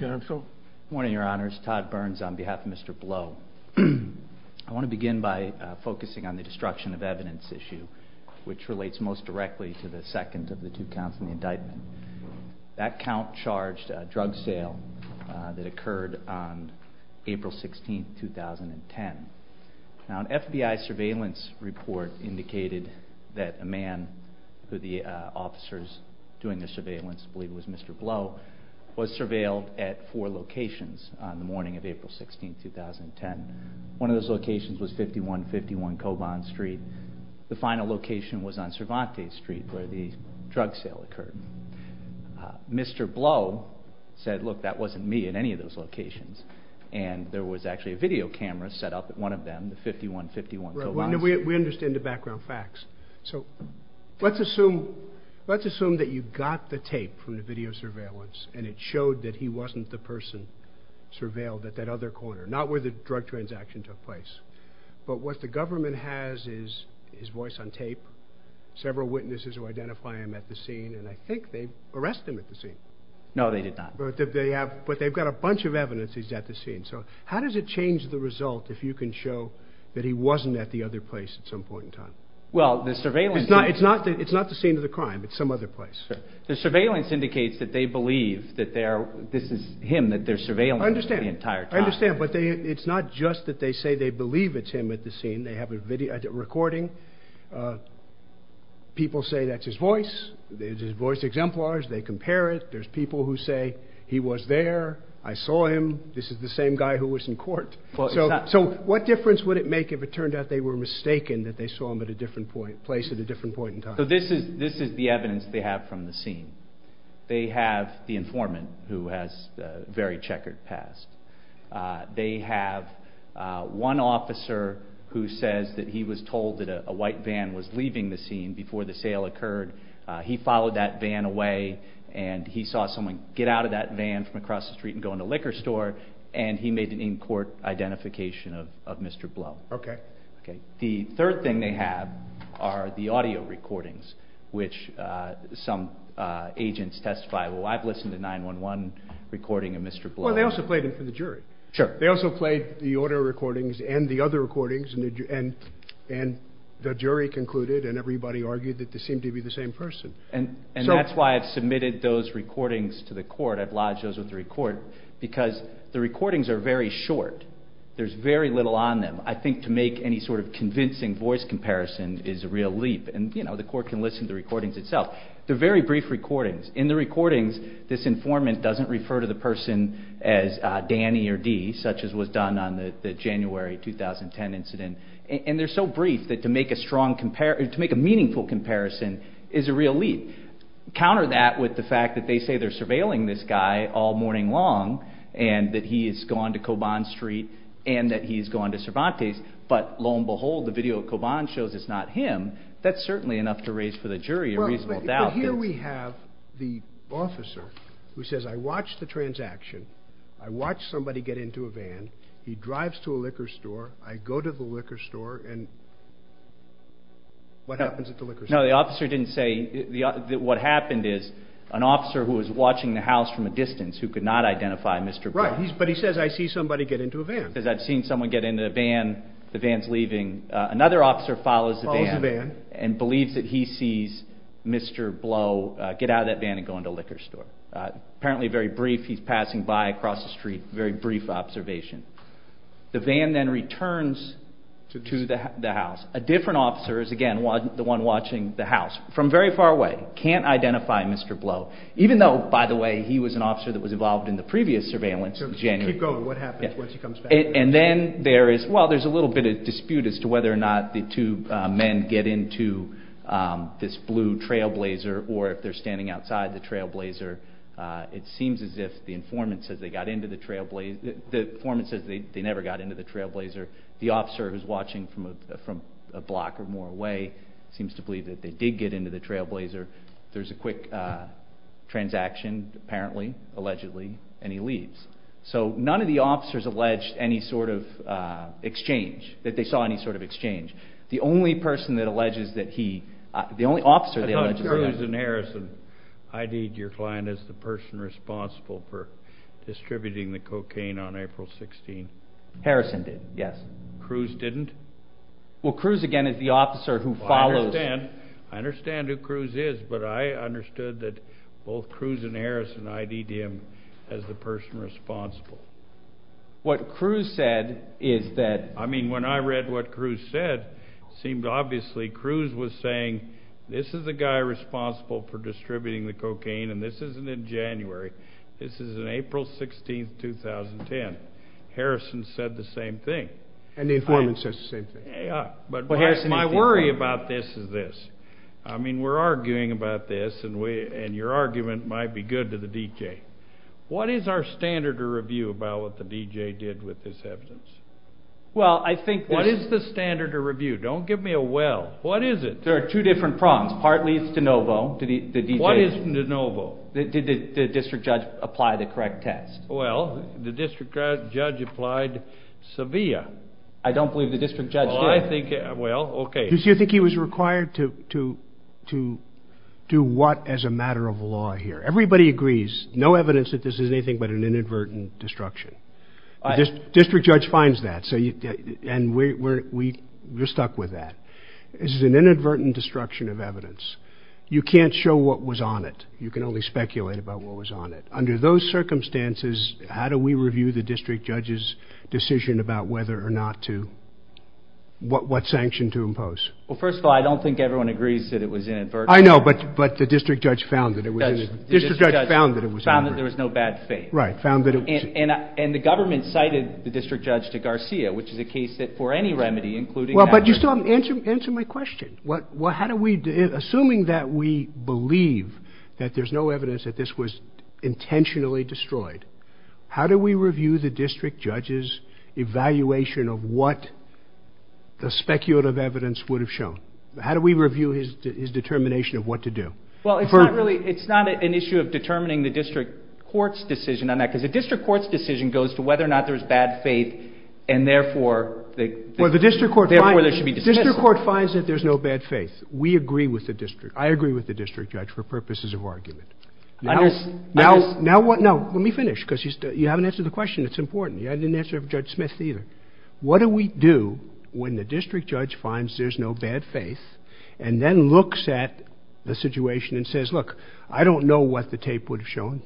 Good morning your honors, Todd Burns on behalf of Mr. Blow. I want to begin by focusing on the destruction of evidence issue which relates most directly to the second of the two counts in the indictment. That count charged a drug sale that occurred on April 16, 2010. Now an FBI surveillance report indicated that a man who the officers doing the surveillance believed was Mr. Blow. Mr. Blow was surveilled at four locations on the morning of April 16, 2010. One of those locations was 5151 Cobon Street. The final location was on Cervantes Street where the drug sale occurred. Mr. Blow said look that wasn't me at any of those locations and there was actually a video camera set up at one of them, the 5151 Cobon Street. We understand the background facts. So let's assume that you got the tape from the video surveillance and it showed that he wasn't the person surveilled at that other corner, not where the drug transaction took place. But what the government has is his voice on tape, several witnesses who identify him at the scene and I think they've arrested him at the scene. No they did not. But they've got a bunch of evidence he's at the scene. So how does it change the result if you can show that he wasn't at the other place at some point in time? It's not the scene of the crime, it's some other place. The surveillance indicates that they believe that this is him that they're surveilling the entire time. I understand but it's not just that they say they believe it's him at the scene. They have a recording. People say that's his voice. It's his voice exemplars. They compare it. There's people who say he was there. I saw him. This is the same guy who was in court. So what difference would it make if it turned out they were mistaken that they saw him at a different place at a different point in time? So this is the evidence they have from the scene. They have the informant who has a very checkered past. They have one officer who says that he was told that a white van was leaving the scene before the sale occurred. He followed that van away and he saw someone get out of that van from across the street and go into a liquor store and he made an in-court identification of Mr. Blow. The third thing they have are the audio recordings which some agents testify. Well I've listened to 911 recording of Mr. Blow. Well they also played them for the jury. They also played the audio recordings and the other recordings and the jury concluded and everybody argued that they seemed to be the same person. And that's why I've submitted those recordings to the court. I've lodged those with the court because the recordings are very short. There's very little on them. I think to make any sort of convincing voice comparison is a real leap and the court can listen to the recordings itself. They're very brief recordings. In the recordings this informant doesn't refer to the person as Danny or Dee such as was done on the January 2010 incident and they're so brief that to make a meaningful comparison is a real leap. Counter that with the fact that they say they're surveilling this guy all morning long and that he has gone to Coban Street and that he's gone to Cervantes but lo and behold the video of Coban shows it's not him. That's certainly enough to raise for the jury a reasonable doubt. But here we have the officer who says I watched the transaction. I watched somebody get into a van. He drives to a liquor store. I go to the liquor store and what happens at the liquor store? No the officer didn't say. What happened is an officer who was watching the house from a distance who could not identify Mr. Blow. But he says I see somebody get into a van. I've seen someone get into a van. The van's leaving. Another officer follows the van and believes that he sees Mr. Blow get out of that van and go into a liquor store. Apparently very brief he's passing by across the street. Very brief observation. The van then returns to the house. A different officer is again the one watching the house from very far away. Can't identify Mr. Blow even though by the way he was an officer that was involved in the previous surveillance. There's a little bit of dispute as to whether or not the two men get into this blue trailblazer or if they're standing outside the trailblazer. It seems as if the informant says they never got into the trailblazer. The officer who's watching from a block or more away seems to believe that they did get into the trailblazer. There's a quick transaction apparently allegedly and he leaves. So none of the officers alleged any sort of exchange that they saw any sort of exchange. The only person that alleges that he- the only officer that alleges- I thought Cruz and Harrison ID'd your client as the person responsible for distributing the cocaine on April 16th. Harrison did, yes. Cruz didn't? Well Cruz again is the officer who follows- I understand who Cruz is but I understood that both Cruz and Harrison ID'd him as the person responsible. What Cruz said is that- I mean when I read what Cruz said it seemed obviously Cruz was saying this is the guy responsible for distributing the cocaine and this isn't in January. This is in April 16th, 2010. Harrison said the same thing. And the informant says the same thing. But my worry about this is this. I mean we're arguing about this and your argument might be good to the D.J. What is our standard of review about what the D.J. did with this evidence? Well I think- What is the standard of review? Don't give me a well. What is it? There are two different prongs. Partly it's DeNovo. What is DeNovo? Did the district judge apply the correct test? Well the district judge applied Sevilla. I don't believe the district judge did. Do you think he was required to do what as a matter of law here? Everybody agrees. No evidence that this is anything but an inadvertent destruction. The district judge finds that and we're stuck with that. This is an inadvertent destruction of evidence. You can't show what was on it. You can only speculate about what was on it. Under those circumstances, how do we review the district judge's decision about whether or not to- what sanction to impose? Well first of all, I don't think everyone agrees that it was inadvertent. I know, but the district judge found that it was- The district judge found that there was no bad faith. Right, found that it was- And the government cited the district judge to Garcia, which is a case that for any remedy, including- Well but you still haven't answered my question. Assuming that we believe that there's no evidence that this was intentionally destroyed, how do we review the district judge's evaluation of what the speculative evidence would have shown? How do we review his determination of what to do? Well it's not really- it's not an issue of determining the district court's decision on that, because the district court's decision goes to whether or not there's bad faith and therefore- Well the district court finds- Therefore there should be dismissal. The district court finds that there's no bad faith. We agree with the district- I agree with the district judge for purposes of argument. Now- I just- Now what- no, let me finish, because you haven't answered the question. It's important. I didn't answer it for Judge Smith either. What do we do when the district judge finds there's no bad faith, and then looks at the situation and says, look, I don't know what the tape would have shown,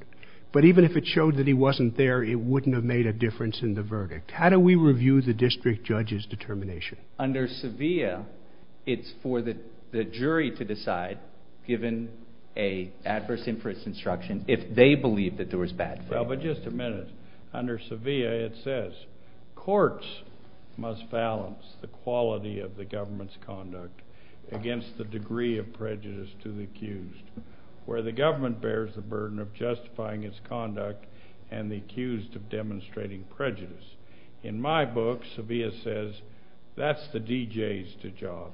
but even if it showed that he wasn't there, it wouldn't have made a difference in the verdict. How do we review the district judge's determination? Under Sevilla, it's for the jury to decide, given an adverse inference instruction, if they believe that there was bad faith. Well, but just a minute. Under Sevilla, it says, courts must balance the quality of the government's conduct against the degree of prejudice to the accused, where the government bears the burden of justifying its conduct and the accused of demonstrating prejudice. In my book, Sevilla says that's the DJ's job.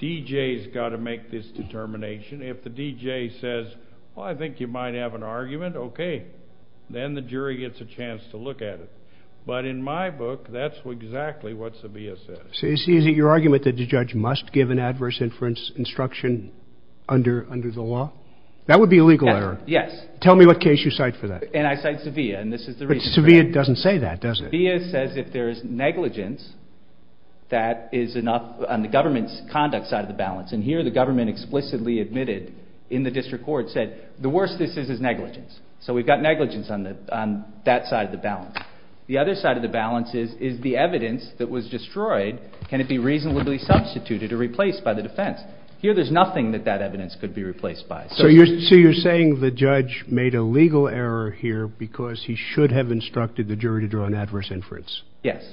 DJ's got to make this determination. If the DJ says, well, I think you might have an argument, okay. Then the jury gets a chance to look at it. But in my book, that's exactly what Sevilla says. So is it your argument that the judge must give an adverse inference instruction under the law? That would be a legal error. Yes. Tell me what case you cite for that. And I cite Sevilla, and this is the reason for that. But Sevilla doesn't say that, does he? Sevilla says if there is negligence, that is enough on the government's conduct side of the balance. And here the government explicitly admitted in the district court, said the worst this is is negligence. So we've got negligence on that side of the balance. The other side of the balance is the evidence that was destroyed, can it be reasonably substituted or replaced by the defense? Here there's nothing that that evidence could be replaced by. So you're saying the judge made a legal error here because he should have instructed the jury to draw an adverse inference. Yes.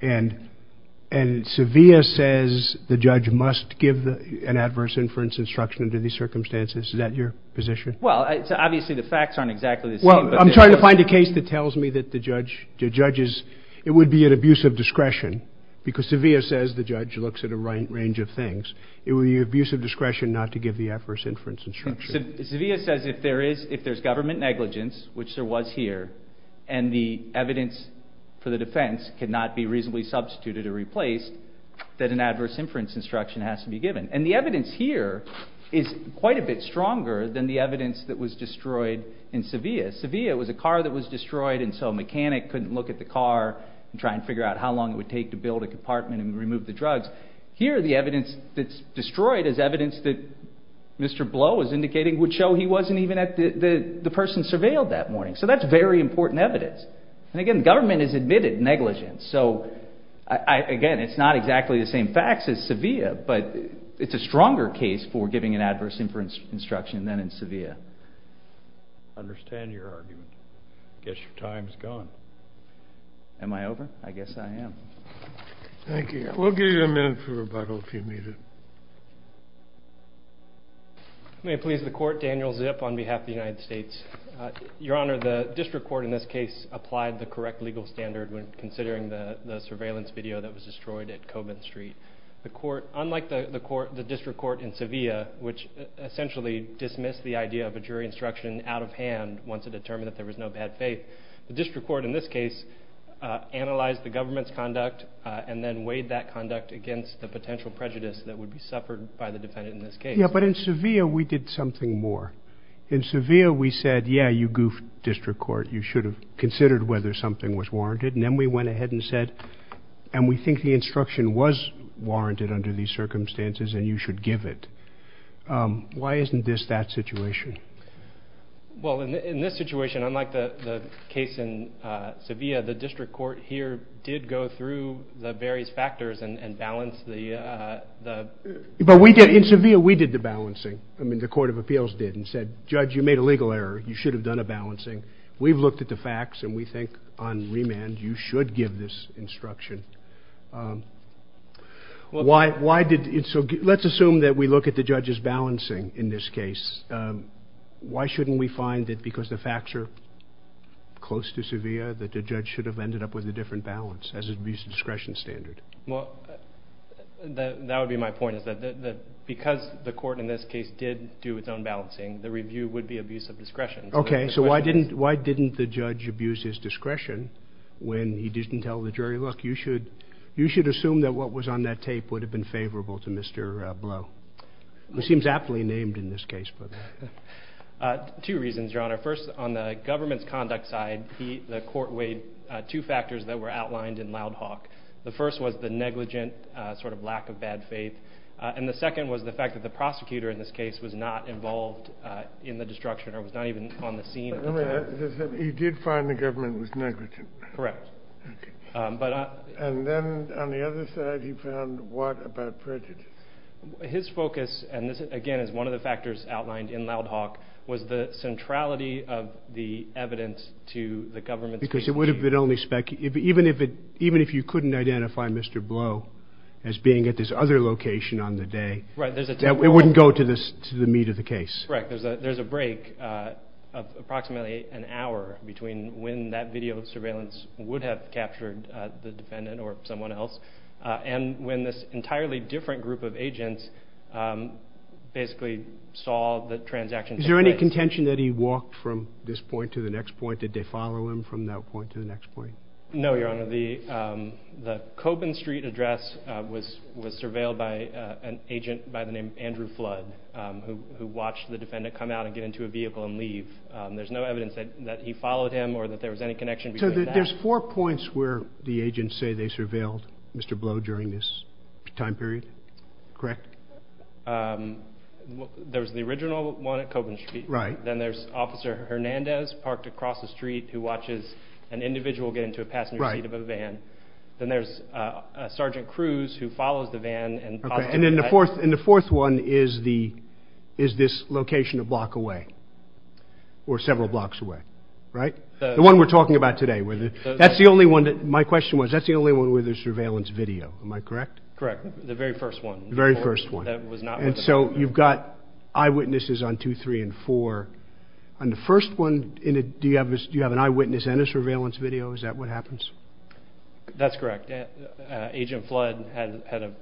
And Sevilla says the judge must give an adverse inference instruction under these circumstances. Is that your position? Well, obviously the facts aren't exactly the same. Well, I'm trying to find a case that tells me that the judge judges it would be an abuse of discretion because Sevilla says the judge looks at a range of things. It would be an abuse of discretion not to give the adverse inference instruction. Sevilla says if there's government negligence, which there was here, and the evidence for the defense cannot be reasonably substituted or replaced, that an adverse inference instruction has to be given. And the evidence here is quite a bit stronger than the evidence that was destroyed in Sevilla. Sevilla was a car that was destroyed and so a mechanic couldn't look at the car and try and figure out how long it would take to build a compartment and remove the drugs. Here the evidence that's destroyed is evidence that Mr. Blow is indicating would show he wasn't even at the person surveilled that morning. So that's very important evidence. And, again, government has admitted negligence. So, again, it's not exactly the same facts as Sevilla, but it's a stronger case for giving an adverse inference instruction than in Sevilla. I understand your argument. I guess your time's gone. Am I over? I guess I am. Thank you. We'll give you a minute for rebuttal if you need it. May it please the Court, Daniel Zip on behalf of the United States. Your Honor, the district court in this case applied the correct legal standard when considering the surveillance video that was destroyed at Coburn Street. Unlike the district court in Sevilla, which essentially dismissed the idea of a jury instruction out of hand once it determined that there was no bad faith, the district court in this case analyzed the government's conduct and then weighed that conduct against the potential prejudice that would be suffered by the defendant in this case. Yeah, but in Sevilla we did something more. In Sevilla we said, yeah, you goofed, district court. You should have considered whether something was warranted. And then we went ahead and said, and we think the instruction was warranted under these circumstances and you should give it. Why isn't this that situation? Well, in this situation, unlike the case in Sevilla, the district court here did go through the various factors and balance the... But in Sevilla we did the balancing. I mean, the Court of Appeals did and said, judge, you made a legal error, you should have done a balancing. We've looked at the facts and we think on remand you should give this instruction. Why did... Let's assume that we look at the judge's balancing in this case. Why shouldn't we find that because the facts are close to Sevilla that the judge should have ended up with a different balance as abuse of discretion standard? Well, that would be my point, is that because the court in this case did do its own balancing, the review would be abuse of discretion. Okay, so why didn't the judge abuse his discretion when he didn't tell the jury, look, you should assume that what was on that tape would have been favorable to Mr. Blow. It seems aptly named in this case. Two reasons, Your Honor. First, on the government's conduct side, the court weighed two factors that were outlined in Loud Hawk. The first was the negligent sort of lack of bad faith and the second was the fact that the prosecutor in this case was not involved in the destruction or was not even on the scene at the time. He did find the government was negligent. Correct. And then on the other side he found what about prejudice? His focus, and this again is one of the factors outlined in Loud Hawk, was the centrality of the evidence to the government's case. Because it would have been only spec, even if you couldn't identify Mr. Blow as being at this other location on the day, it wouldn't go to the meat of the case. Correct. There's a break of approximately an hour between when that video surveillance would have captured the defendant or someone else and when this entirely different group of agents basically saw the transaction take place. Is there any contention that he walked from this point to the next point? Did they follow him from that point to the next point? No, Your Honor. The Koppen Street address was surveilled by an agent by the name of Andrew Flood who watched the defendant come out and get into a vehicle and leave. There's no evidence that he followed him or that there was any connection between that. So there's four points where the agents say they surveilled Mr. Blow during this time period, correct? There's the original one at Koppen Street. Then there's Officer Hernandez parked across the street who watches an individual get into a passenger seat of a van. Then there's Sergeant Cruz who follows the van. And the fourth one is this location a block away or several blocks away, right? The one we're talking about today. My question was, that's the only one with a surveillance video. Am I correct? Correct. The very first one. And so you've got eyewitnesses on 2, 3, and 4. On the first one, do you have an eyewitness and a surveillance video? Is that what happens? That's correct. Agent Flood had a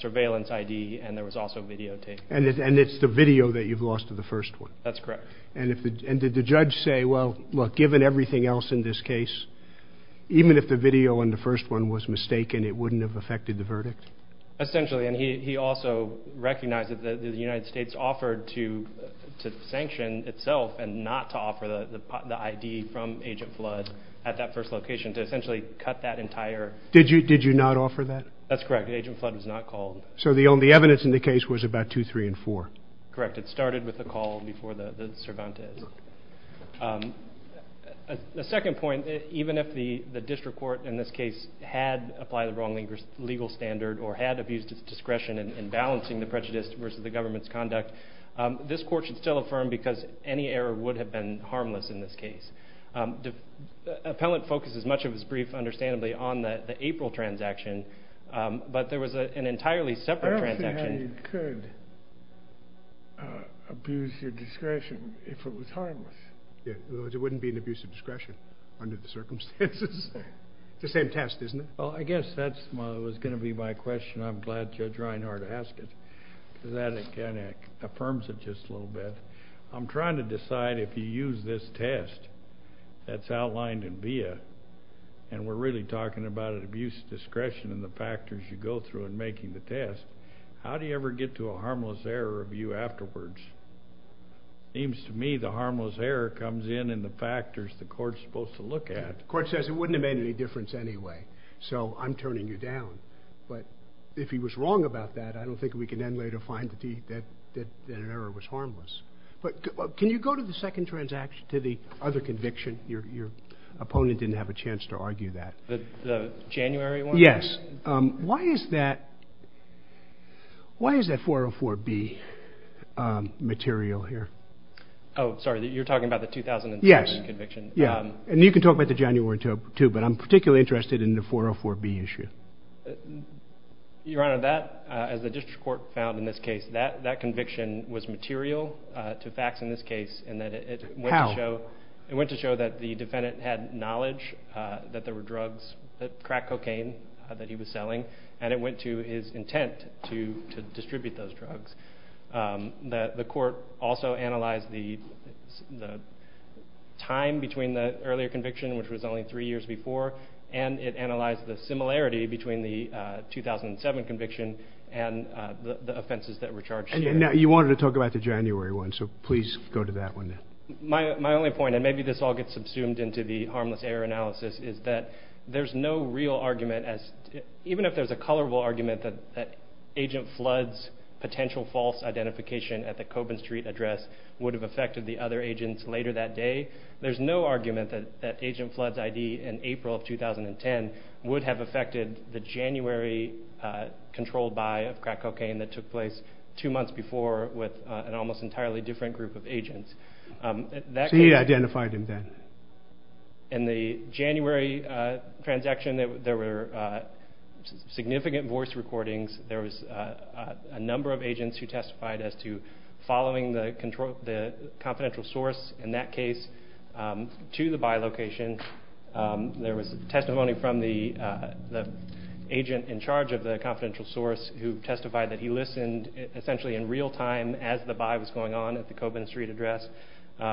surveillance ID and there was also videotape. And it's the video that you've lost of the first one? That's correct. And did the judge say, well, look, given everything else in this case, even if the video in the first one was mistaken, it wouldn't have affected the verdict? Essentially. And he also recognized that the United States offered to sanction itself and not to offer the ID from Agent Flood at that first location to essentially cut that entire... Did you not offer that? That's correct. Agent Flood was not called. So the evidence in the case was about 2, 3, and 4? Correct. It started with a call before the Cervantes. The second point, even if the district court in this case had applied the wrong legal standard or had abused its discretion in balancing the prejudice versus the government's conduct, this court should still affirm because any error would have been harmless in this case. The appellant focuses much of his brief, understandably, on the April transaction, but there was an entirely separate transaction. That's exactly how you could abuse your discretion if it was harmless. In other words, it wouldn't be an abuse of discretion under the circumstances? It's the same test, isn't it? Well, I guess that was going to be my question. I'm glad Judge Reinhardt asked it because that, again, affirms it just a little bit. I'm trying to decide if you use this test that's outlined in BIA, and we're really talking about an abuse of discretion in the factors you go through in making the test. How do you ever get to a harmless error review afterwards? It seems to me the harmless error comes in in the factors the court's supposed to look at. The court says it wouldn't have made any difference anyway, so I'm turning you down. But if he was wrong about that, I don't think we can then later find that an error was harmless. But can you go to the second transaction, to the other conviction? Your opponent didn't have a chance to argue that. The January one? Yes. Why is that 404B material here? Oh, sorry, you're talking about the 2007 conviction? Yes. And you can talk about the January too, but I'm particularly interested in the 404B issue. Your Honor, that, as the district court found in this case, that conviction was material to facts in this case. How? It went to show that the defendant had knowledge that there were drugs, crack cocaine, that he was selling, and it went to his intent to distribute those drugs. The court also analyzed the time between the earlier conviction, which was only three years before, and it analyzed the similarity between the 2007 conviction and the offenses that were charged here. And you wanted to talk about the January one, so please go to that one now. My only point, and then maybe this all gets subsumed into the harmless error analysis, is that there's no real argument, even if there's a colorful argument that Agent Flood's potential false identification at the Coben Street address would have affected the other agents later that day, there's no argument that Agent Flood's ID in April of 2010 would have affected the January controlled buy of crack cocaine that took place two months before with an almost entirely different group of agents. So he identified him then. In the January transaction, there were significant voice recordings. There was a number of agents who testified as to following the confidential source, in that case, to the buy location. There was testimony from the agent in charge of the confidential source who testified that he listened essentially in real time as the buy was going on at the Coben Street address. So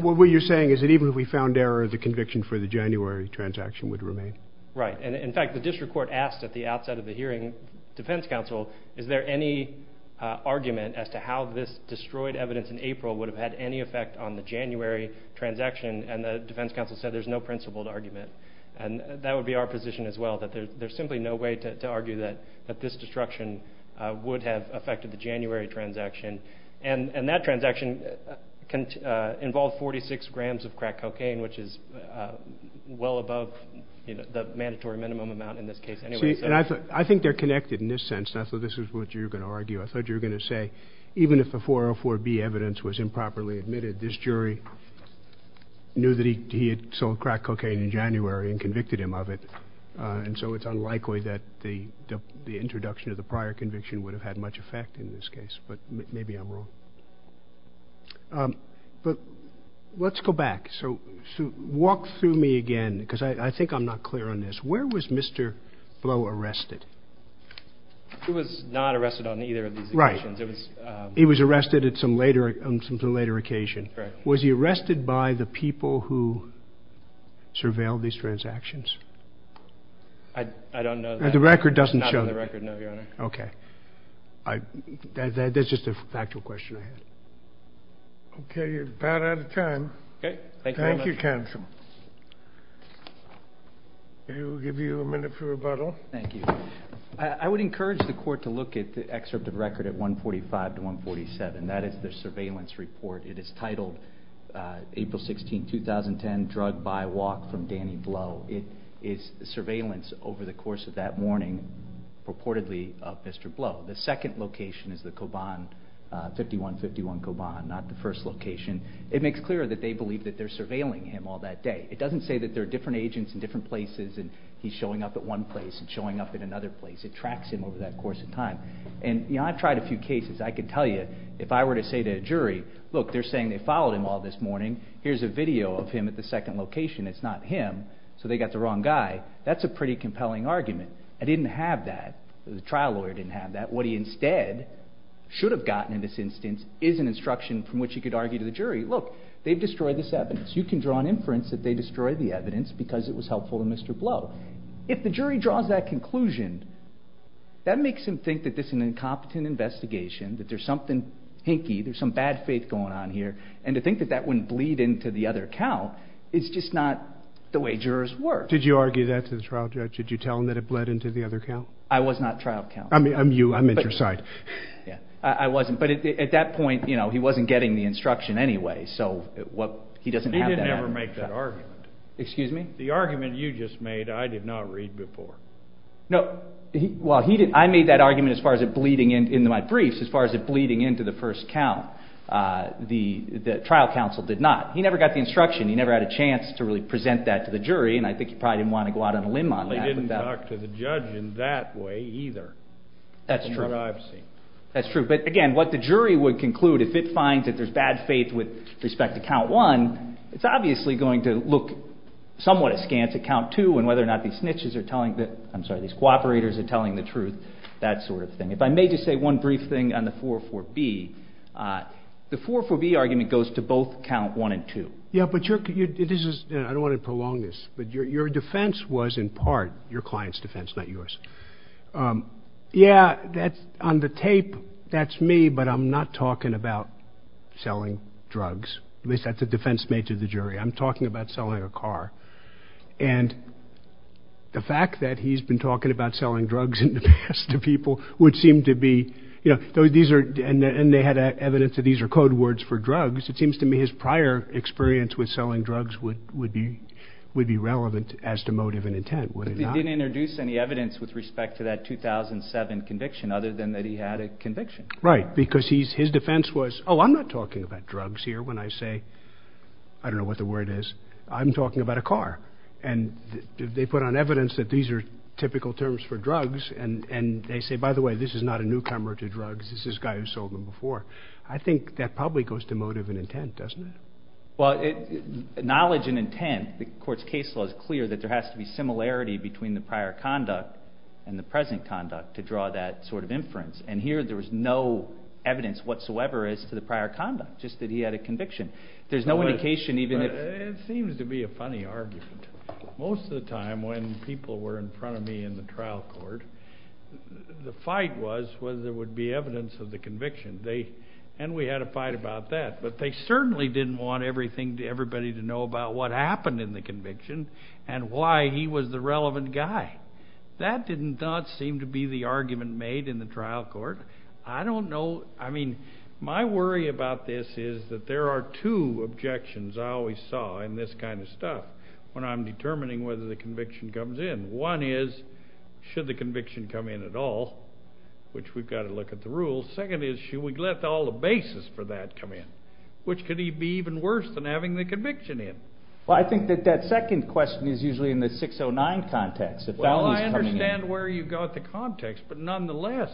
what you're saying is that even if we found error, the conviction for the January transaction would remain. Right. In fact, the district court asked at the outset of the hearing, defense counsel, is there any argument as to how this destroyed evidence in April would have had any effect on the January transaction, and the defense counsel said there's no principled argument. And that would be our position as well, that there's simply no way to argue that this destruction would have affected the January transaction. And that transaction involved 46 grams of crack cocaine, which is well above the mandatory minimum amount in this case anyway. See, and I think they're connected in this sense. This is what you're going to argue. I thought you were going to say even if the 404B evidence was improperly admitted, this jury knew that he had sold crack cocaine in January and convicted him of it, and so it's unlikely that the introduction of the prior conviction would have had much effect in this case. But maybe I'm wrong. But let's go back. So walk through me again, because I think I'm not clear on this. Where was Mr. Blow arrested? He was not arrested on either of these occasions. Right. He was arrested on some later occasion. Was he arrested by the people who surveilled these transactions? I don't know that. The record doesn't show that. Not on the record, no, Your Honor. Okay. That's just a factual question I had. Okay. You're about out of time. Okay. Thank you, Your Honor. Thank you, counsel. We'll give you a minute for rebuttal. Thank you. I would encourage the court to look at the excerpt of record at 145 to 147. That is the surveillance report. It is titled April 16, 2010, Drug by Walk from Danny Blow. It is surveillance over the course of that morning purportedly of Mr. Blow. The second location is the Koban, 5151 Koban, not the first location. It makes clear that they believe that they're surveilling him all that day. It doesn't say that there are different agents in different places and he's showing up at one place and showing up at another place. It tracks him over that course of time. And, you know, I've tried a few cases. I could tell you if I were to say to a jury, look, they're saying they followed him all this morning. Here's a video of him at the second location. It's not him, so they got the wrong guy. That's a pretty compelling argument. I didn't have that. The trial lawyer didn't have that. What he instead should have gotten in this instance is an instruction from which he could argue to the jury, look, they've destroyed this evidence. You can draw an inference that they destroyed the evidence because it was helpful to Mr. Blow. If the jury draws that conclusion, that makes him think that this is an incompetent investigation, that there's something hinky, there's some bad faith going on here, and to think that that wouldn't bleed into the other count is just not the way jurors work. Did you argue that to the trial judge? Did you tell him that it bled into the other count? I was not trial count. I mean, you, I meant your side. I wasn't, but at that point, you know, he wasn't getting the instruction anyway, so he doesn't have that. He didn't ever make that argument. Excuse me? The argument you just made I did not read before. No, well, he didn't. I made that argument as far as it bleeding into my briefs, as far as it bleeding into the first count. The trial counsel did not. He never got the instruction. He never had a chance to really present that to the jury, and I think he probably didn't want to go out on a limb on that. He didn't talk to the judge in that way either. That's true. That's what I've seen. That's true. But, again, what the jury would conclude, if it finds that there's bad faith with respect to count one, it's obviously going to look somewhat askance at count two and whether or not these cooperators are telling the truth, that sort of thing. If I may just say one brief thing on the 4-4-B. The 4-4-B argument goes to both count one and two. Yeah, but I don't want to prolong this, but your defense was in part your client's defense, not yours. Yeah, on the tape, that's me, but I'm not talking about selling drugs. At least that's a defense made to the jury. I'm talking about selling a car. And the fact that he's been talking about selling drugs in the past to people would seem to be, you know, and they had evidence that these are code words for drugs, it seems to me his prior experience with selling drugs would be relevant as to motive and intent, would it not? But he didn't introduce any evidence with respect to that 2007 conviction other than that he had a conviction. Right, because his defense was, oh, I'm not talking about drugs here when I say, I don't know what the word is, I'm talking about a car. And they put on evidence that these are typical terms for drugs and they say, by the way, this is not a newcomer to drugs, this is this guy who sold them before. I think that probably goes to motive and intent, doesn't it? Well, knowledge and intent, the court's case law is clear that there has to be similarity between the prior conduct and the present conduct to draw that sort of inference. And here there was no evidence whatsoever as to the prior conduct, just that he had a conviction. There's no indication even if... It seems to be a funny argument. Most of the time when people were in front of me in the trial court, the fight was whether there would be evidence of the conviction. And we had a fight about that. But they certainly didn't want everybody to know about what happened in the conviction and why he was the relevant guy. That did not seem to be the argument made in the trial court. I don't know. I mean, my worry about this is that there are two objections I always saw in this kind of stuff when I'm determining whether the conviction comes in. One is, should the conviction come in at all, which we've got to look at the rules. Second is, should we let all the basis for that come in, which could be even worse than having the conviction in. Well, I think that that second question is usually in the 609 context. Well, I understand where you've got the context, but nonetheless,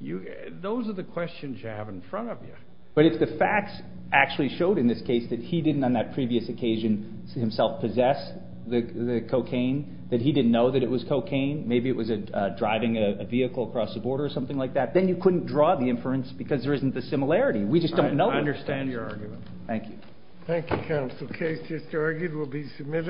those are the questions you have in front of you. But if the facts actually showed in this case that he didn't on that previous occasion himself possess the cocaine, that he didn't know that it was cocaine, maybe it was driving a vehicle across the border or something like that, then you couldn't draw the inference because there isn't the similarity. We just don't know. I understand your argument. Thank you. Thank you, Counsel Case. This argument will be submitted.